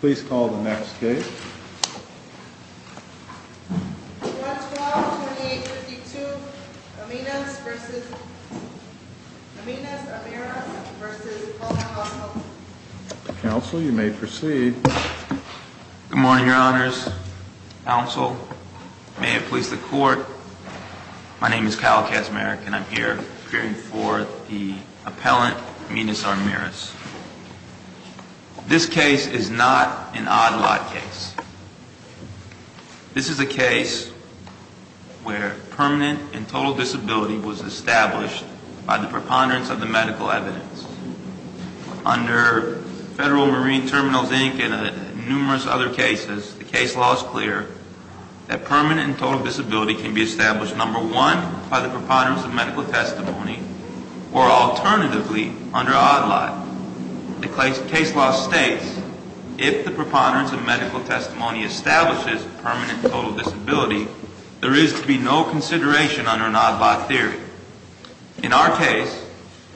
Please call the next case. 1-12-28-52 Aminas v. Amiras v. Colón-González Counsel, you may proceed. Good morning, Your Honors. Counsel, may it please the Court. My name is Kyle Kaczmarek and I'm here appearing for the appellant Aminas Armiras. This case is not an odd lot case. This is a case where permanent and total disability was established by the preponderance of the medical evidence. Under Federal Marine Terminals, Inc. and numerous other cases, the case law is clear that permanent and total disability can be established, first, number one, by the preponderance of medical testimony, or alternatively, under odd lot. The case law states, if the preponderance of medical testimony establishes permanent and total disability, there is to be no consideration under an odd lot theory. In our case,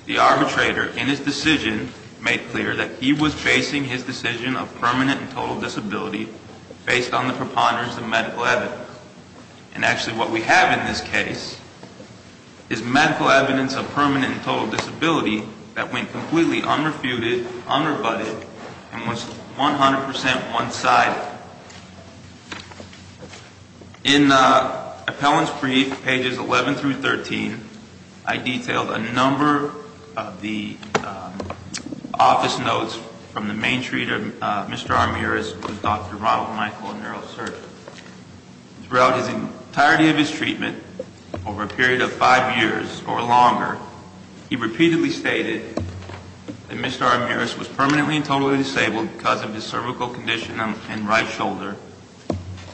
the arbitrator, in his decision, made clear that he was facing his decision of permanent and total disability based on the preponderance of medical evidence. However, and actually what we have in this case, is medical evidence of permanent and total disability that went completely unrefuted, unrebutted, and was 100% one-sided. In Appellant's brief, pages 11 through 13, I detailed a number of the office notes from the main treater, Mr. Amiras, who is Dr. Ronald Michael, a neurosurgeon. Throughout the entirety of his treatment, over a period of five years or longer, he repeatedly stated that Mr. Amiras was permanently and totally disabled because of his cervical condition and right shoulder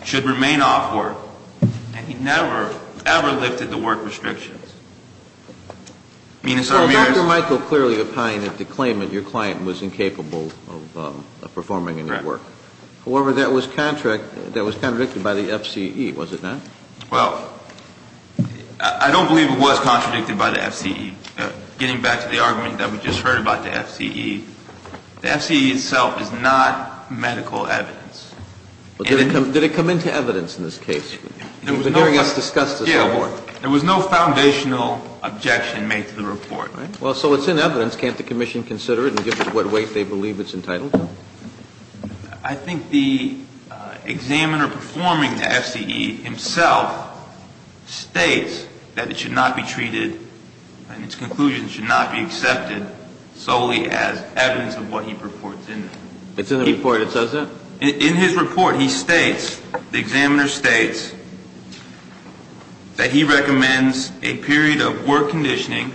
should remain off work. And he never, ever lifted the work restrictions. Dr. Michael clearly opined that the claimant, your client, was incapable of performing any work. However, that was contradicted by the FCE, was it not? Well, I don't believe it was contradicted by the FCE. Getting back to the argument that we just heard about the FCE, the FCE itself is not medical evidence. Did it come into evidence in this case? You've been hearing us discuss this. Yeah. There was no foundational objection made to the report. Well, so it's in evidence. Can't the commission consider it and give it what weight they believe it's entitled to? I think the examiner performing the FCE himself states that it should not be treated and its conclusion should not be accepted solely as evidence of what he purports in it. It's in the report. It says that? In his report, he states, the examiner states, that he recommends a period of work conditioning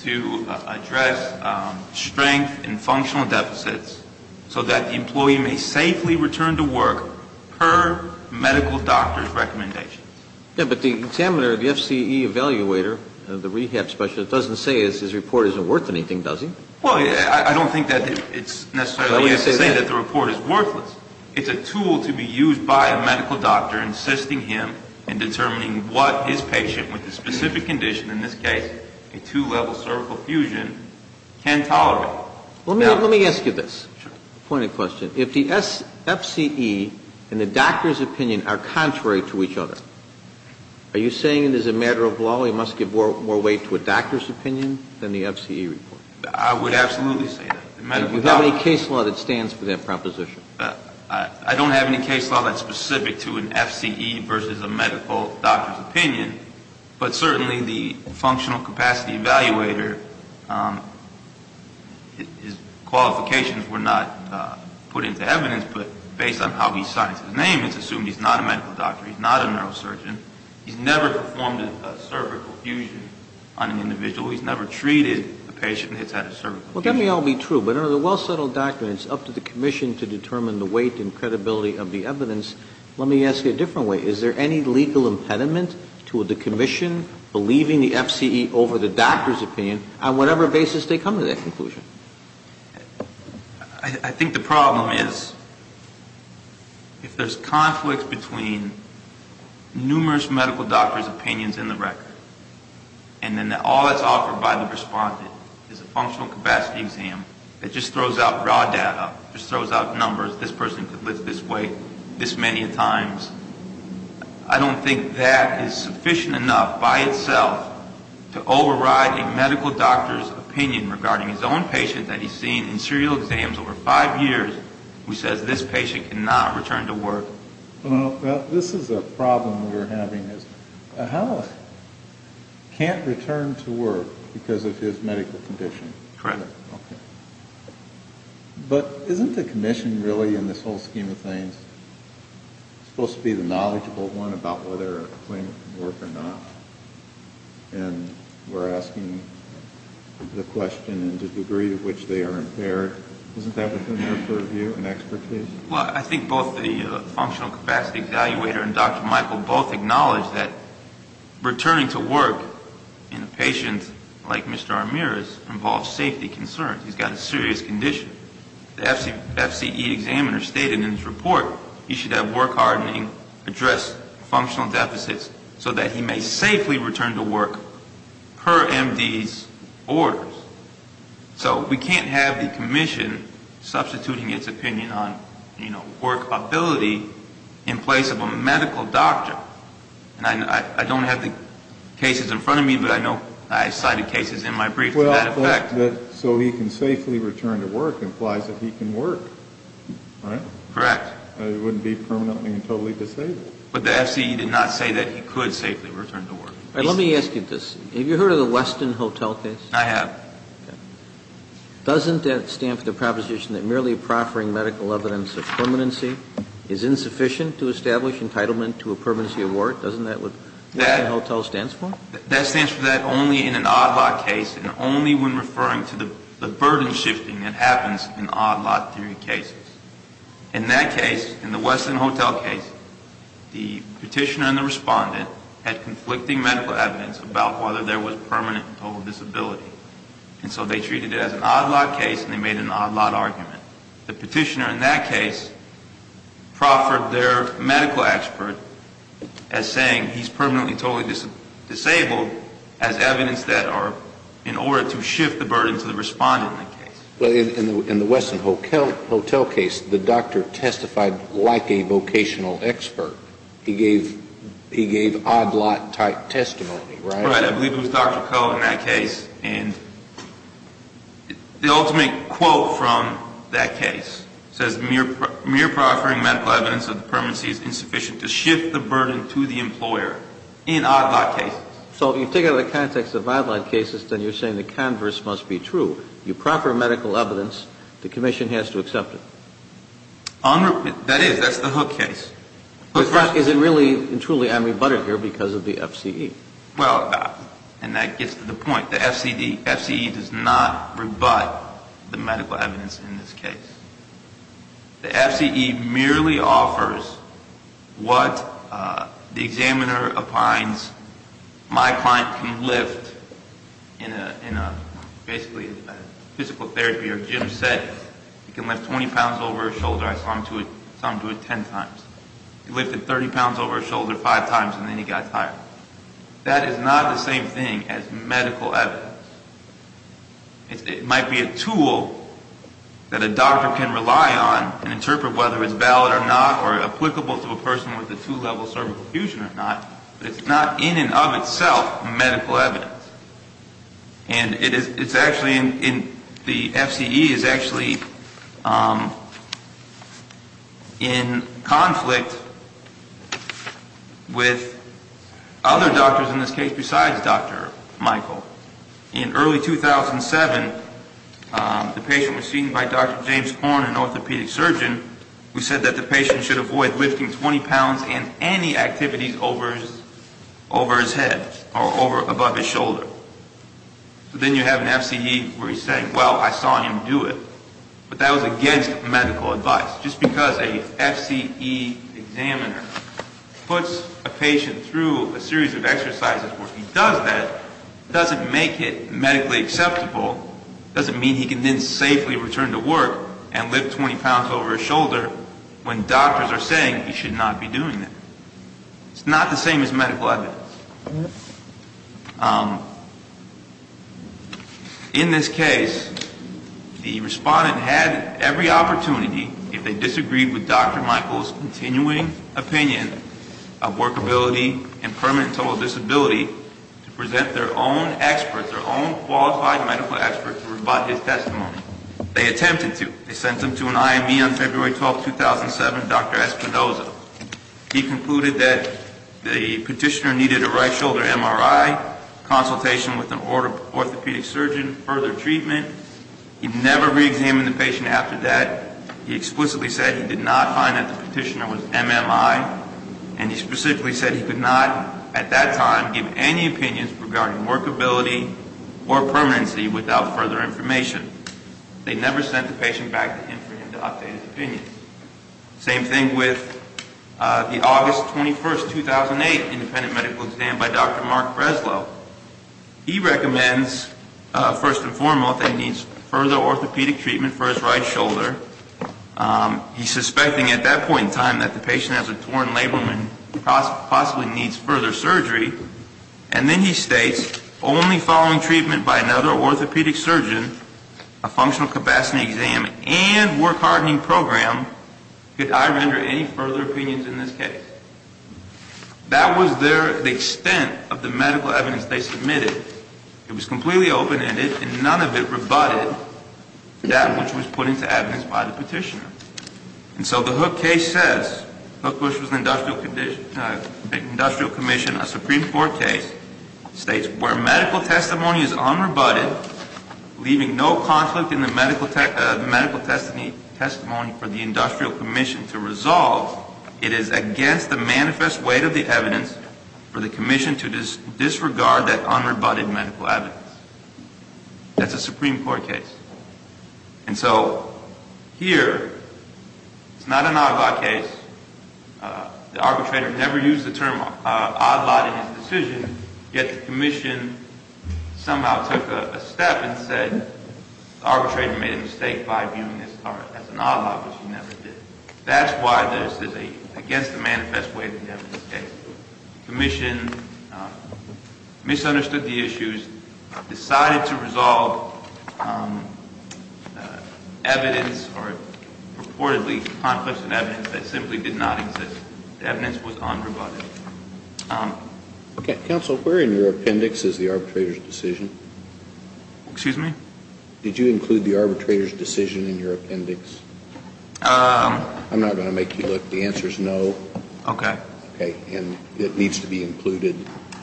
to address strength and functional deficits so that the employee may safely return to work per medical doctor's recommendations. Yeah, but the examiner, the FCE evaluator, the rehab specialist, doesn't say his report isn't worth anything, does he? Well, I don't think that it's necessarily necessary to say that the report is worthless. It's a tool to be used by a medical doctor insisting him in determining what his patient, with a specific condition, in this case a two-level cervical fusion, can tolerate. Let me ask you this. Sure. Point of question. If the FCE and the doctor's opinion are contrary to each other, are you saying it is a matter of law he must give more weight to a doctor's opinion than the FCE report? I would absolutely say that. Do you have any case law that stands for that proposition? I don't have any case law that's specific to an FCE versus a medical doctor's opinion, but certainly the functional capacity evaluator, his qualifications were not put into evidence, but based on how he signs his name, it's assumed he's not a medical doctor, he's not a neurosurgeon. He's never performed a cervical fusion on an individual. He's never treated a patient that's had a cervical fusion. Well, that may all be true, but under the well-settled doctrine, it's up to the commission to determine the weight and credibility of the evidence. Let me ask you a different way. Is there any legal impediment to the commission believing the FCE over the doctor's opinion on whatever basis they come to that conclusion? I think the problem is if there's conflict between numerous medical doctors' opinions in the record and then all that's offered by the respondent is a functional capacity exam that just throws out raw data, just throws out numbers, this person could lift this weight this many times, I don't think that is sufficient enough by itself to override a medical doctor's opinion regarding his own patient that he's seen in serial exams over five years who says this patient cannot return to work. Well, this is a problem we're having. A health can't return to work because of his medical condition. Correct. Okay. But isn't the commission really, in this whole scheme of things, supposed to be the knowledgeable one about whether a claimant can work or not? And we're asking the question in the degree to which they are impaired. Isn't that within their purview and expertise? Well, I think both the functional capacity evaluator and Dr. Michael both acknowledge that returning to work in a patient like Mr. Armira's involves safety concerns. He's got a serious condition. The FCE examiner stated in his report he should have work-hardening address functional deficits so that he may safely return to work per MD's orders. So we can't have the commission substituting its opinion on, you know, workability in place of a medical doctor. And I don't have the cases in front of me, but I know I cited cases in my brief to that effect. So he can safely return to work implies that he can work, right? Correct. He wouldn't be permanently and totally disabled. But the FCE did not say that he could safely return to work. Let me ask you this. Have you heard of the Weston Hotel case? I have. Okay. Doesn't that stand for the proposition that merely proffering medical evidence of permanency is insufficient to establish entitlement to a permanency award? Doesn't that what Weston Hotel stands for? That stands for that only in an odd-lot case and only when referring to the burden shifting that happens in odd-lot theory cases. In that case, in the Weston Hotel case, the petitioner and the respondent had conflicting medical evidence about whether there was permanent and total disability. And so they treated it as an odd-lot case and they made an odd-lot argument. The petitioner in that case proffered their medical expert as saying he's permanently and totally disabled as evidence that are in order to shift the burden to the respondent in that case. But in the Weston Hotel case, the doctor testified like a vocational expert. He gave odd-lot type testimony, right? Right. I believe it was Dr. Koh in that case. And the ultimate quote from that case says, mere proffering medical evidence of permanency is insufficient to shift the burden to the employer in odd-lot cases. So if you take it out of the context of odd-lot cases, then you're saying the converse must be true. You proffer medical evidence. The commission has to accept it. That is. That's the Hook case. Is it really and truly unrebutted here because of the FCE? Well, and that gets to the point. The FCE does not rebut the medical evidence in this case. The FCE merely offers what the examiner opines my client can lift in basically a physical therapy or gym set. He can lift 20 pounds over his shoulder. I saw him do it 10 times. He lifted 30 pounds over his shoulder five times, and then he got tired. That is not the same thing as medical evidence. It might be a tool that a doctor can rely on and interpret whether it's valid or not or applicable to a person with a two-level cervical fusion or not, but it's not in and of itself medical evidence. And it's actually in the FCE is actually in conflict with other doctors in this case besides Dr. Michael. In early 2007, the patient was seen by Dr. James Horne, an orthopedic surgeon, who said that the patient should avoid lifting 20 pounds and any activities over his head or above his shoulder. But then you have an FCE where he's saying, well, I saw him do it. But that was against medical advice. Just because an FCE examiner puts a patient through a series of exercises where he does that doesn't make it medically acceptable. Doesn't mean he can then safely return to work and lift 20 pounds over his shoulder when doctors are saying he should not be doing that. It's not the same as medical evidence. In this case, the respondent had every opportunity, if they disagreed with Dr. Michael's continuing opinion of workability and permanent total disability, to present their own experts, their own qualified medical experts to rebut his testimony. They attempted to. They sent him to an IME on February 12, 2007, Dr. Espinoza. He concluded that the petitioner needed a right shoulder MRI, consultation with an orthopedic surgeon, further treatment. He never reexamined the patient after that. He explicitly said he did not find that the petitioner was MMI. And he specifically said he could not, at that time, give any opinions regarding workability or permanency without further information. They never sent the patient back to him for him to update his opinion. Same thing with the August 21, 2008, independent medical exam by Dr. Mark Breslow. He recommends, first and foremost, that he needs further orthopedic treatment for his right shoulder. He's suspecting at that point in time that the patient has a torn labrum and possibly needs further surgery. And then he states, only following treatment by another orthopedic surgeon, a functional capacity exam, and work hardening program, could I render any further opinions in this case. That was the extent of the medical evidence they submitted. It was completely open-ended, and none of it rebutted that which was put into evidence by the petitioner. And so the Hook case says, Hook Bush was an industrial commission, a Supreme Court case, states where medical testimony is unrebutted, leaving no conflict in the medical testimony for the industrial commission to resolve, it is against the manifest weight of the evidence for the commission to disregard that unrebutted medical evidence. That's a Supreme Court case. And so, here, it's not an odd lot case. The arbitrator never used the term odd lot in his decision, yet the commission somehow took a step and said, the arbitrator made a mistake by viewing this as an odd lot, which he never did. That's why this is against the manifest weight of the evidence case. The commission misunderstood the issues, decided to resolve evidence, or reportedly conflicts in evidence that simply did not exist. The evidence was unrebutted. Okay. Counsel, where in your appendix is the arbitrator's decision? Excuse me? Did you include the arbitrator's decision in your appendix? I'm not going to make you look. The answer is no. Okay. Okay. And it needs to be included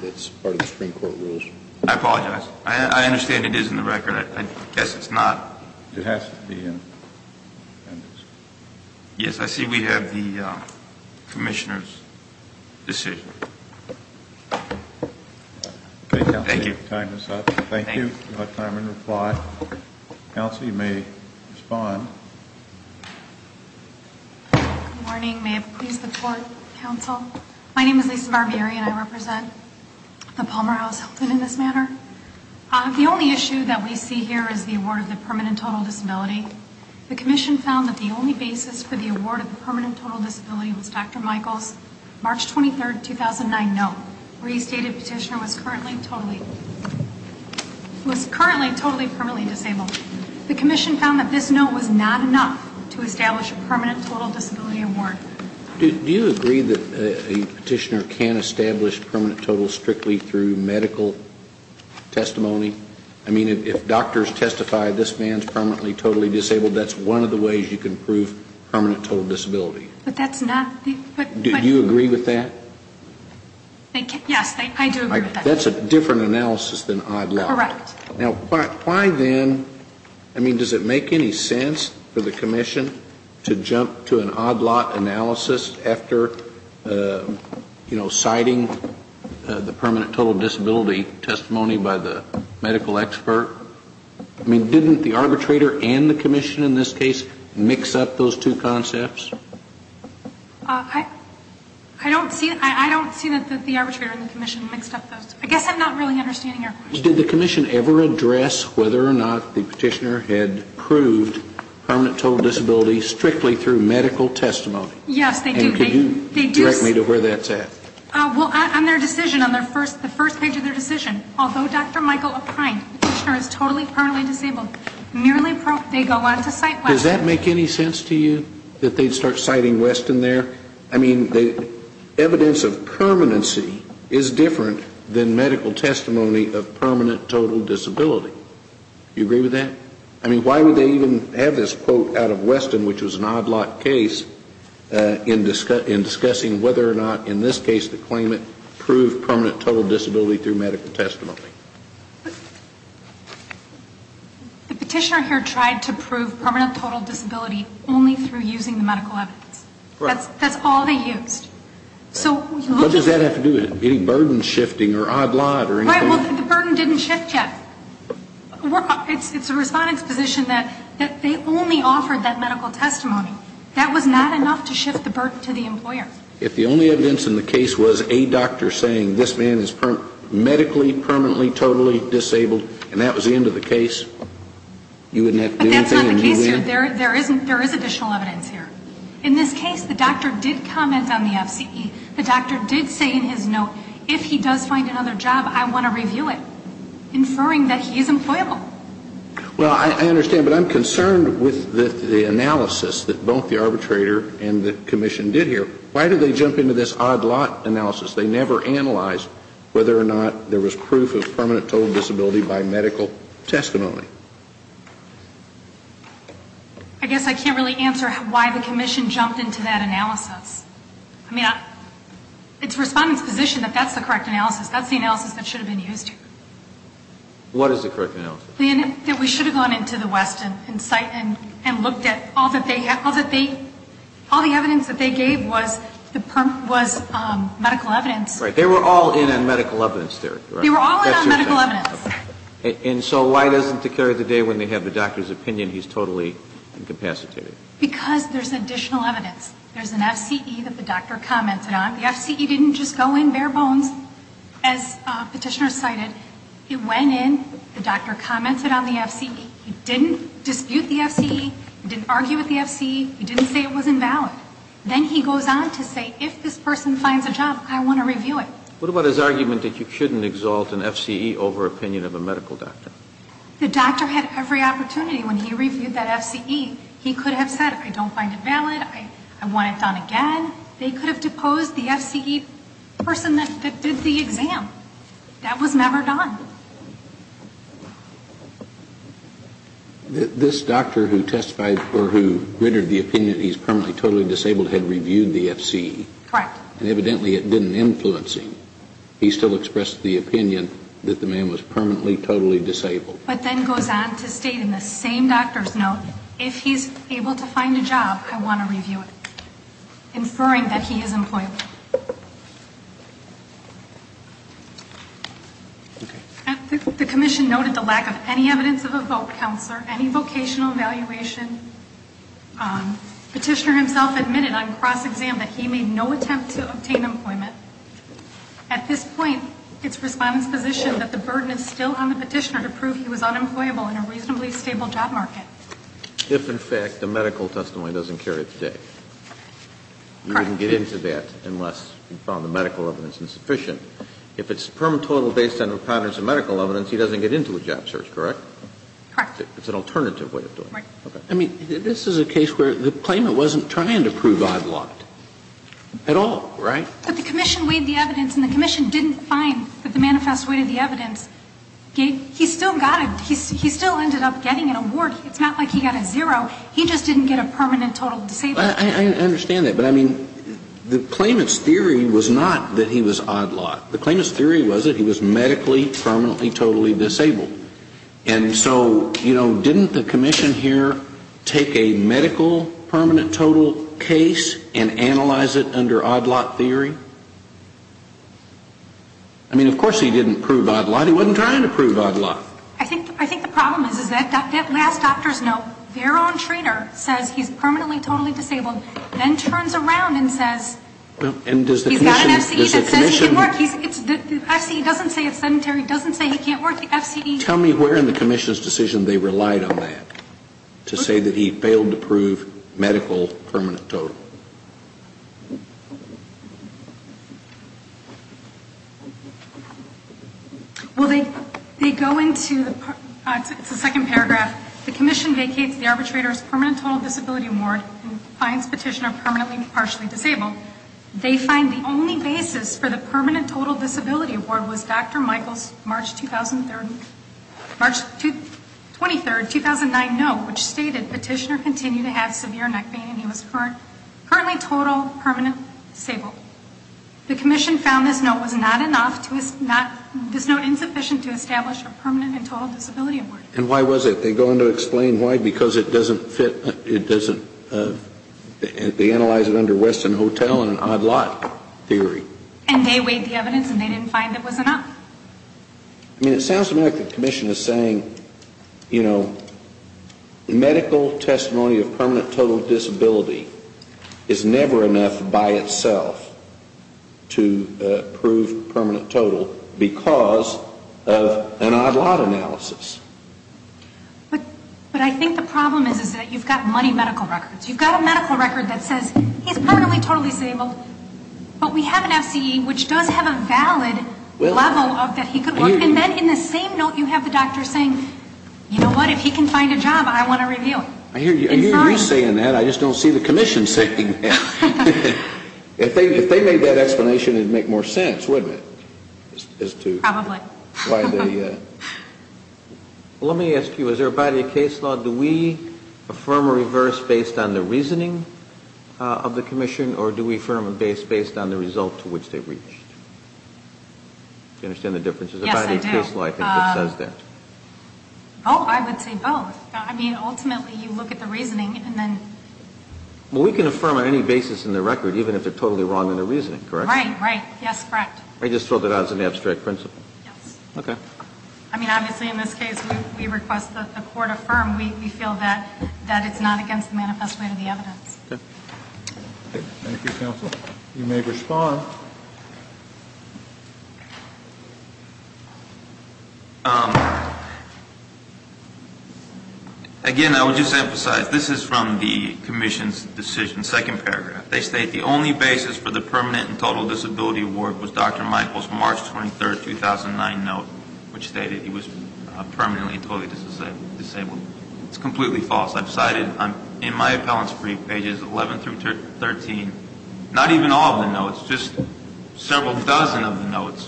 as part of the Supreme Court rules. I apologize. I guess it's not. It has to be in the appendix. Yes, I see we have the commissioner's decision. Okay, counsel. Thank you. Your time is up. Thank you. You have time and reply. Counsel, you may respond. Good morning. May it please the court, counsel. My name is Lisa Barbieri, and I represent the Palmer House Hilton in this manner. The only issue that we see here is the award of the permanent total disability. The commission found that the only basis for the award of the permanent total disability was Dr. Michael's March 23, 2009, note where he stated the petitioner was currently totally permanently disabled. The commission found that this note was not enough to establish a permanent total disability award. Do you agree that a petitioner can't establish permanent total strictly through medical testimony? I mean, if doctors testify this man's permanently totally disabled, that's one of the ways you can prove permanent total disability. But that's not the question. Do you agree with that? Yes, I do agree with that. That's a different analysis than odd lot. Correct. Now, why then, I mean, does it make any sense for the commission to jump to an odd lot analysis after, you know, citing the permanent total disability testimony by the medical expert? I mean, didn't the arbitrator and the commission in this case mix up those two concepts? I don't see that the arbitrator and the commission mixed up those. I guess I'm not really understanding your question. Did the commission ever address whether or not the petitioner had proved permanent total disability strictly through medical testimony? Yes, they do. Can you direct me to where that's at? Well, on their decision, on the first page of their decision, although Dr. Michael O'Kind, the petitioner, is totally permanently disabled, merely they go on to cite Weston. Does that make any sense to you, that they'd start citing Weston there? I mean, evidence of permanency is different than medical testimony of permanent total disability. Do you agree with that? I mean, why would they even have this quote out of Weston, which was an odd lot case, in discussing whether or not, in this case, the claimant proved permanent total disability through medical testimony? The petitioner here tried to prove permanent total disability only through using the medical evidence. That's all they used. What does that have to do with it? Any burden shifting or odd lot or anything? Right, well, the burden didn't shift yet. It's the respondent's position that they only offered that medical testimony. That was not enough to shift the burden to the employer. If the only evidence in the case was a doctor saying, this man is medically, permanently, totally disabled, and that was the end of the case, you wouldn't have to do anything. But that's not the case here. There is additional evidence here. In this case, the doctor did comment on the FCE. The doctor did say in his note, if he does find another job, I want to review it, inferring that he is employable. Well, I understand. But I'm concerned with the analysis that both the arbitrator and the commission did here. Why did they jump into this odd lot analysis? They never analyzed whether or not there was proof of permanent total disability by medical testimony. I guess I can't really answer why the commission jumped into that analysis. I mean, it's the respondent's position that that's the correct analysis. That's the analysis that should have been used here. What is the correct analysis? That we should have gone into the West and looked at all that they have, all the evidence that they gave was medical evidence. Right. They were all in on medical evidence there. They were all in on medical evidence. And so why doesn't the carrier of the day, when they have the doctor's opinion, he's totally incapacitated? Because there's additional evidence. There's an FCE that the doctor commented on. The FCE didn't just go in bare bones, as Petitioner cited. It went in. The doctor commented on the FCE. He didn't dispute the FCE. He didn't argue with the FCE. He didn't say it was invalid. Then he goes on to say, if this person finds a job, I want to review it. What about his argument that you shouldn't exalt an FCE over opinion of a medical doctor? The doctor had every opportunity when he reviewed that FCE. He could have said, I don't find it valid. I want it done again. They could have deposed the FCE person that did the exam. That was never done. This doctor who testified or who gritted the opinion that he's permanently totally disabled had reviewed the FCE. Correct. And evidently it didn't influence him. He still expressed the opinion that the man was permanently totally disabled. But then goes on to state in the same doctor's note, if he's able to find a job, I want to review it, inferring that he is employable. The commission noted the lack of any evidence of a vote, Counselor, any vocational evaluation. Petitioner himself admitted on cross-exam that he made no attempt to obtain employment. At this point, it's Respondent's position that the burden is still on the petitioner to prove he was unemployable in a reasonably stable job market. If, in fact, the medical testimony doesn't carry its date. Correct. You wouldn't get into that unless you found the medical evidence insufficient. If it's permanently totally based on patterns of medical evidence, he doesn't get into a job search, correct? Correct. It's an alternative way of doing it. Right. I mean, this is a case where the claimant wasn't trying to prove odd lot at all, right? But the commission weighed the evidence, and the commission didn't find that the manifest weighed the evidence. He still got it. He still ended up getting an award. It's not like he got a zero. He just didn't get a permanent total disability. I understand that. But, I mean, the claimant's theory was not that he was odd lot. The claimant's theory was that he was medically permanently totally disabled. And so, you know, didn't the commission here take a medical permanent total case and analyze it under odd lot theory? I mean, of course he didn't prove odd lot. He wasn't trying to prove odd lot. I think the problem is that last doctor's note, their own trainer says he's permanently totally disabled, then turns around and says he's got an FCE that says he can't work. The FCE doesn't say it's sedentary. It doesn't say he can't work. The FCE... Tell me where in the commission's decision they relied on that to say that he failed to prove medical permanent total. Well, they go into the second paragraph. The commission vacates the arbitrator's permanent total disability award and finds petitioner permanently partially disabled. They find the only basis for the permanent total disability award was Dr. Michael's March 2003... March 23, 2009 note, which stated petitioner continued to have severe neck pain and he was currently total permanent disabled. The commission found this note was not enough to... This note insufficient to establish a permanent and total disability award. And why was it? They go on to explain why, because it doesn't fit... They analyze it under Weston Hotel and an odd lot theory. And they weighed the evidence and they didn't find it was enough. I mean, it sounds to me like the commission is saying, you know, medical testimony of permanent total disability is never enough by itself to prove permanent total because of an odd lot analysis. But I think the problem is that you've got money medical records. You've got a medical record that says he's permanently totally disabled. But we have an FCE which does have a valid level of that he could work. And then in the same note you have the doctor saying, you know what, if he can find a job, I want a review. I hear you saying that. I just don't see the commission saying that. If they made that explanation, it would make more sense, wouldn't it? Probably. Well, let me ask you, is there a body of case law, do we affirm or reverse based on the reasoning of the commission or do we affirm based on the result to which they've reached? Do you understand the difference? Yes, I do. There's a body of case law, I think, that says that. Oh, I would say both. I mean, ultimately you look at the reasoning and then... Well, we can affirm on any basis in the record even if they're totally wrong in their reasoning, correct? Right, right. Yes, correct. I just thought that as an abstract principle. Yes. Okay. I mean, obviously in this case we request that the court affirm. We feel that it's not against the manifest way to the evidence. Okay. Thank you, counsel. You may respond. Again, I would just emphasize, this is from the commission's decision, second paragraph. They state the only basis for the permanent and total disability award was Dr. Michael's March 23, 2009 note, which stated he was permanently and totally disabled. It's completely false. I've cited in my appellant's brief, pages 11 through 13, not even all of the notes, just several dozen of the notes,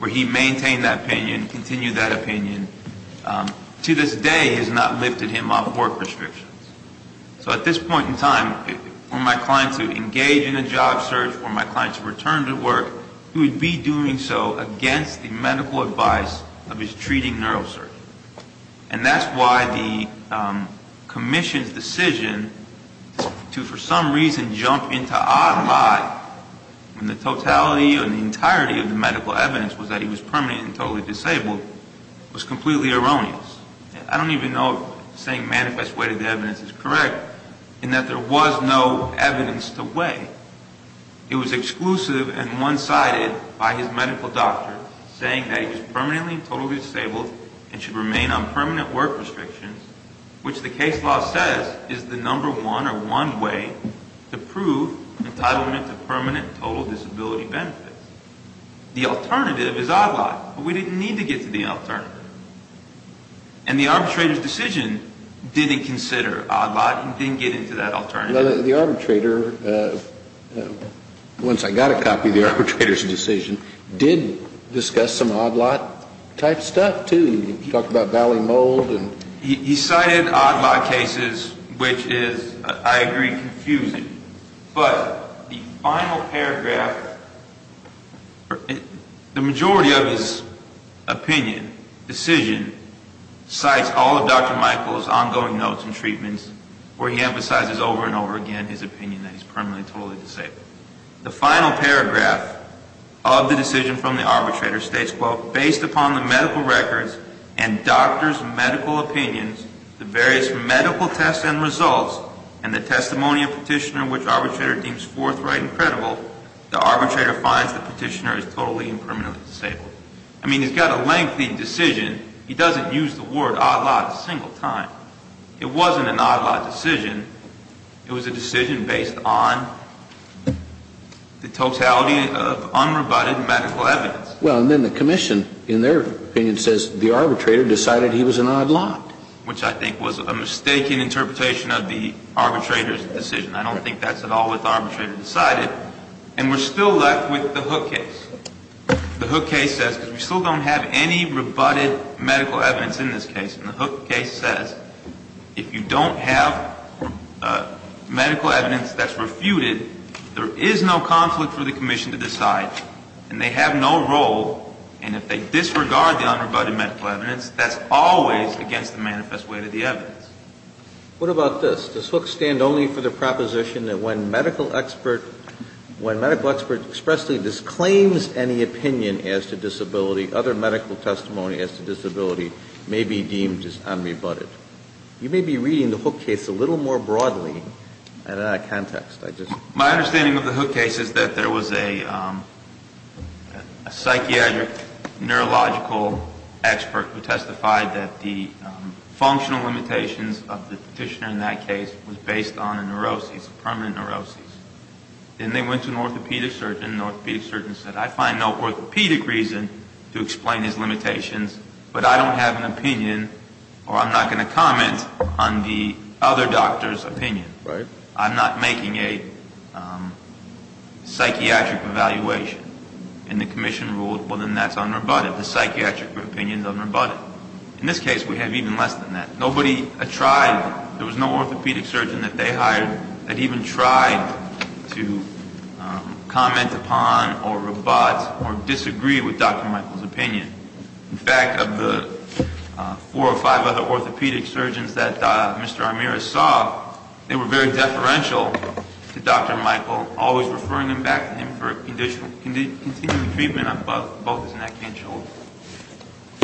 where he maintained that opinion, continued that opinion. To this day has not lifted him off work restrictions. So at this point in time, for my client to engage in a job search, for my client to return to work, he would be doing so against the medical advice of his treating neurosurgeon. And that's why the commission's decision to, for some reason, jump into odd lie when the totality or the entirety of the medical evidence was that he was permanently and totally disabled was completely erroneous. I don't even know if saying manifest way to the evidence is correct in that there was no evidence to weigh. It was exclusive and one-sided by his medical doctor saying that he was permanently and totally disabled and should remain on permanent work restrictions, which the case law says is the number one or one way to prove entitlement to permanent total disability benefits. The alternative is odd lot, but we didn't need to get to the alternative. And the arbitrator's decision didn't consider odd lot and didn't get into that alternative. The arbitrator, once I got a copy of the arbitrator's decision, did discuss some odd lot type stuff, too. He talked about valley mold and... He cited odd lot cases, which is, I agree, confusing. But the final paragraph, the majority of his opinion, decision, cites all of Dr. Michael's ongoing notes and treatments where he emphasizes over and over again his opinion that he's permanently and totally disabled. The final paragraph of the decision from the arbitrator states, quote, based upon the medical records and doctor's medical opinions, the various medical tests and results, and the testimony of petitioner which arbitrator deems forthright and credible, the arbitrator finds the petitioner is totally and permanently disabled. I mean, he's got a lengthy decision. He doesn't use the word odd lot a single time. It wasn't an odd lot decision. It was a decision based on the totality of unrebutted medical evidence. Well, and then the commission, in their opinion, says the arbitrator decided he was an odd lot. Which I think was a mistaken interpretation of the arbitrator's decision. I don't think that's at all what the arbitrator decided. And we're still left with the Hook case. The Hook case says, because we still don't have any rebutted medical evidence in this case. And the Hook case says, if you don't have medical evidence that's refuted, there is no conflict for the commission to decide. And they have no role. And if they disregard the unrebutted medical evidence, that's always against the manifest weight of the evidence. What about this? Does Hook stand only for the proposition that when medical expert expressly disclaims any opinion as to disability, other medical testimony as to disability may be deemed as unrebutted? You may be reading the Hook case a little more broadly and in that context. My understanding of the Hook case is that there was a psychiatric neurological expert who testified that the functional limitations of the petitioner in that case was based on a neurosis, permanent neurosis. Then they went to an orthopedic surgeon. The orthopedic surgeon said, I find no orthopedic reason to explain his limitations, but I don't have an opinion or I'm not going to comment on the other doctor's opinion. I'm not making a psychiatric evaluation. And the commission ruled, well, then that's unrebutted. The psychiatric opinion is unrebutted. In this case, we have even less than that. Nobody tried. There was no orthopedic surgeon that they hired that even tried to comment upon or rebut or disagree with Dr. Michael's opinion. In fact, of the four or five other orthopedic surgeons that Mr. Amiris saw, they were very deferential to Dr. Michael, always referring him back to him for continuing treatment on both his neck and shoulders.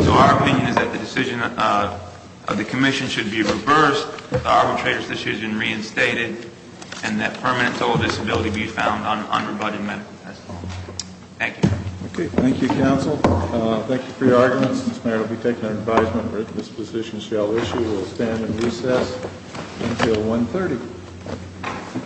So our opinion is that the decision of the commission should be reversed, the arbitrator's decision reinstated, and that permanent total disability be found on unrebutted medical testimony. Thank you. Okay. Thank you, counsel. Thank you for your arguments. This matter will be taken under advisement. This position shall issue. We'll stand in recess until 1.30.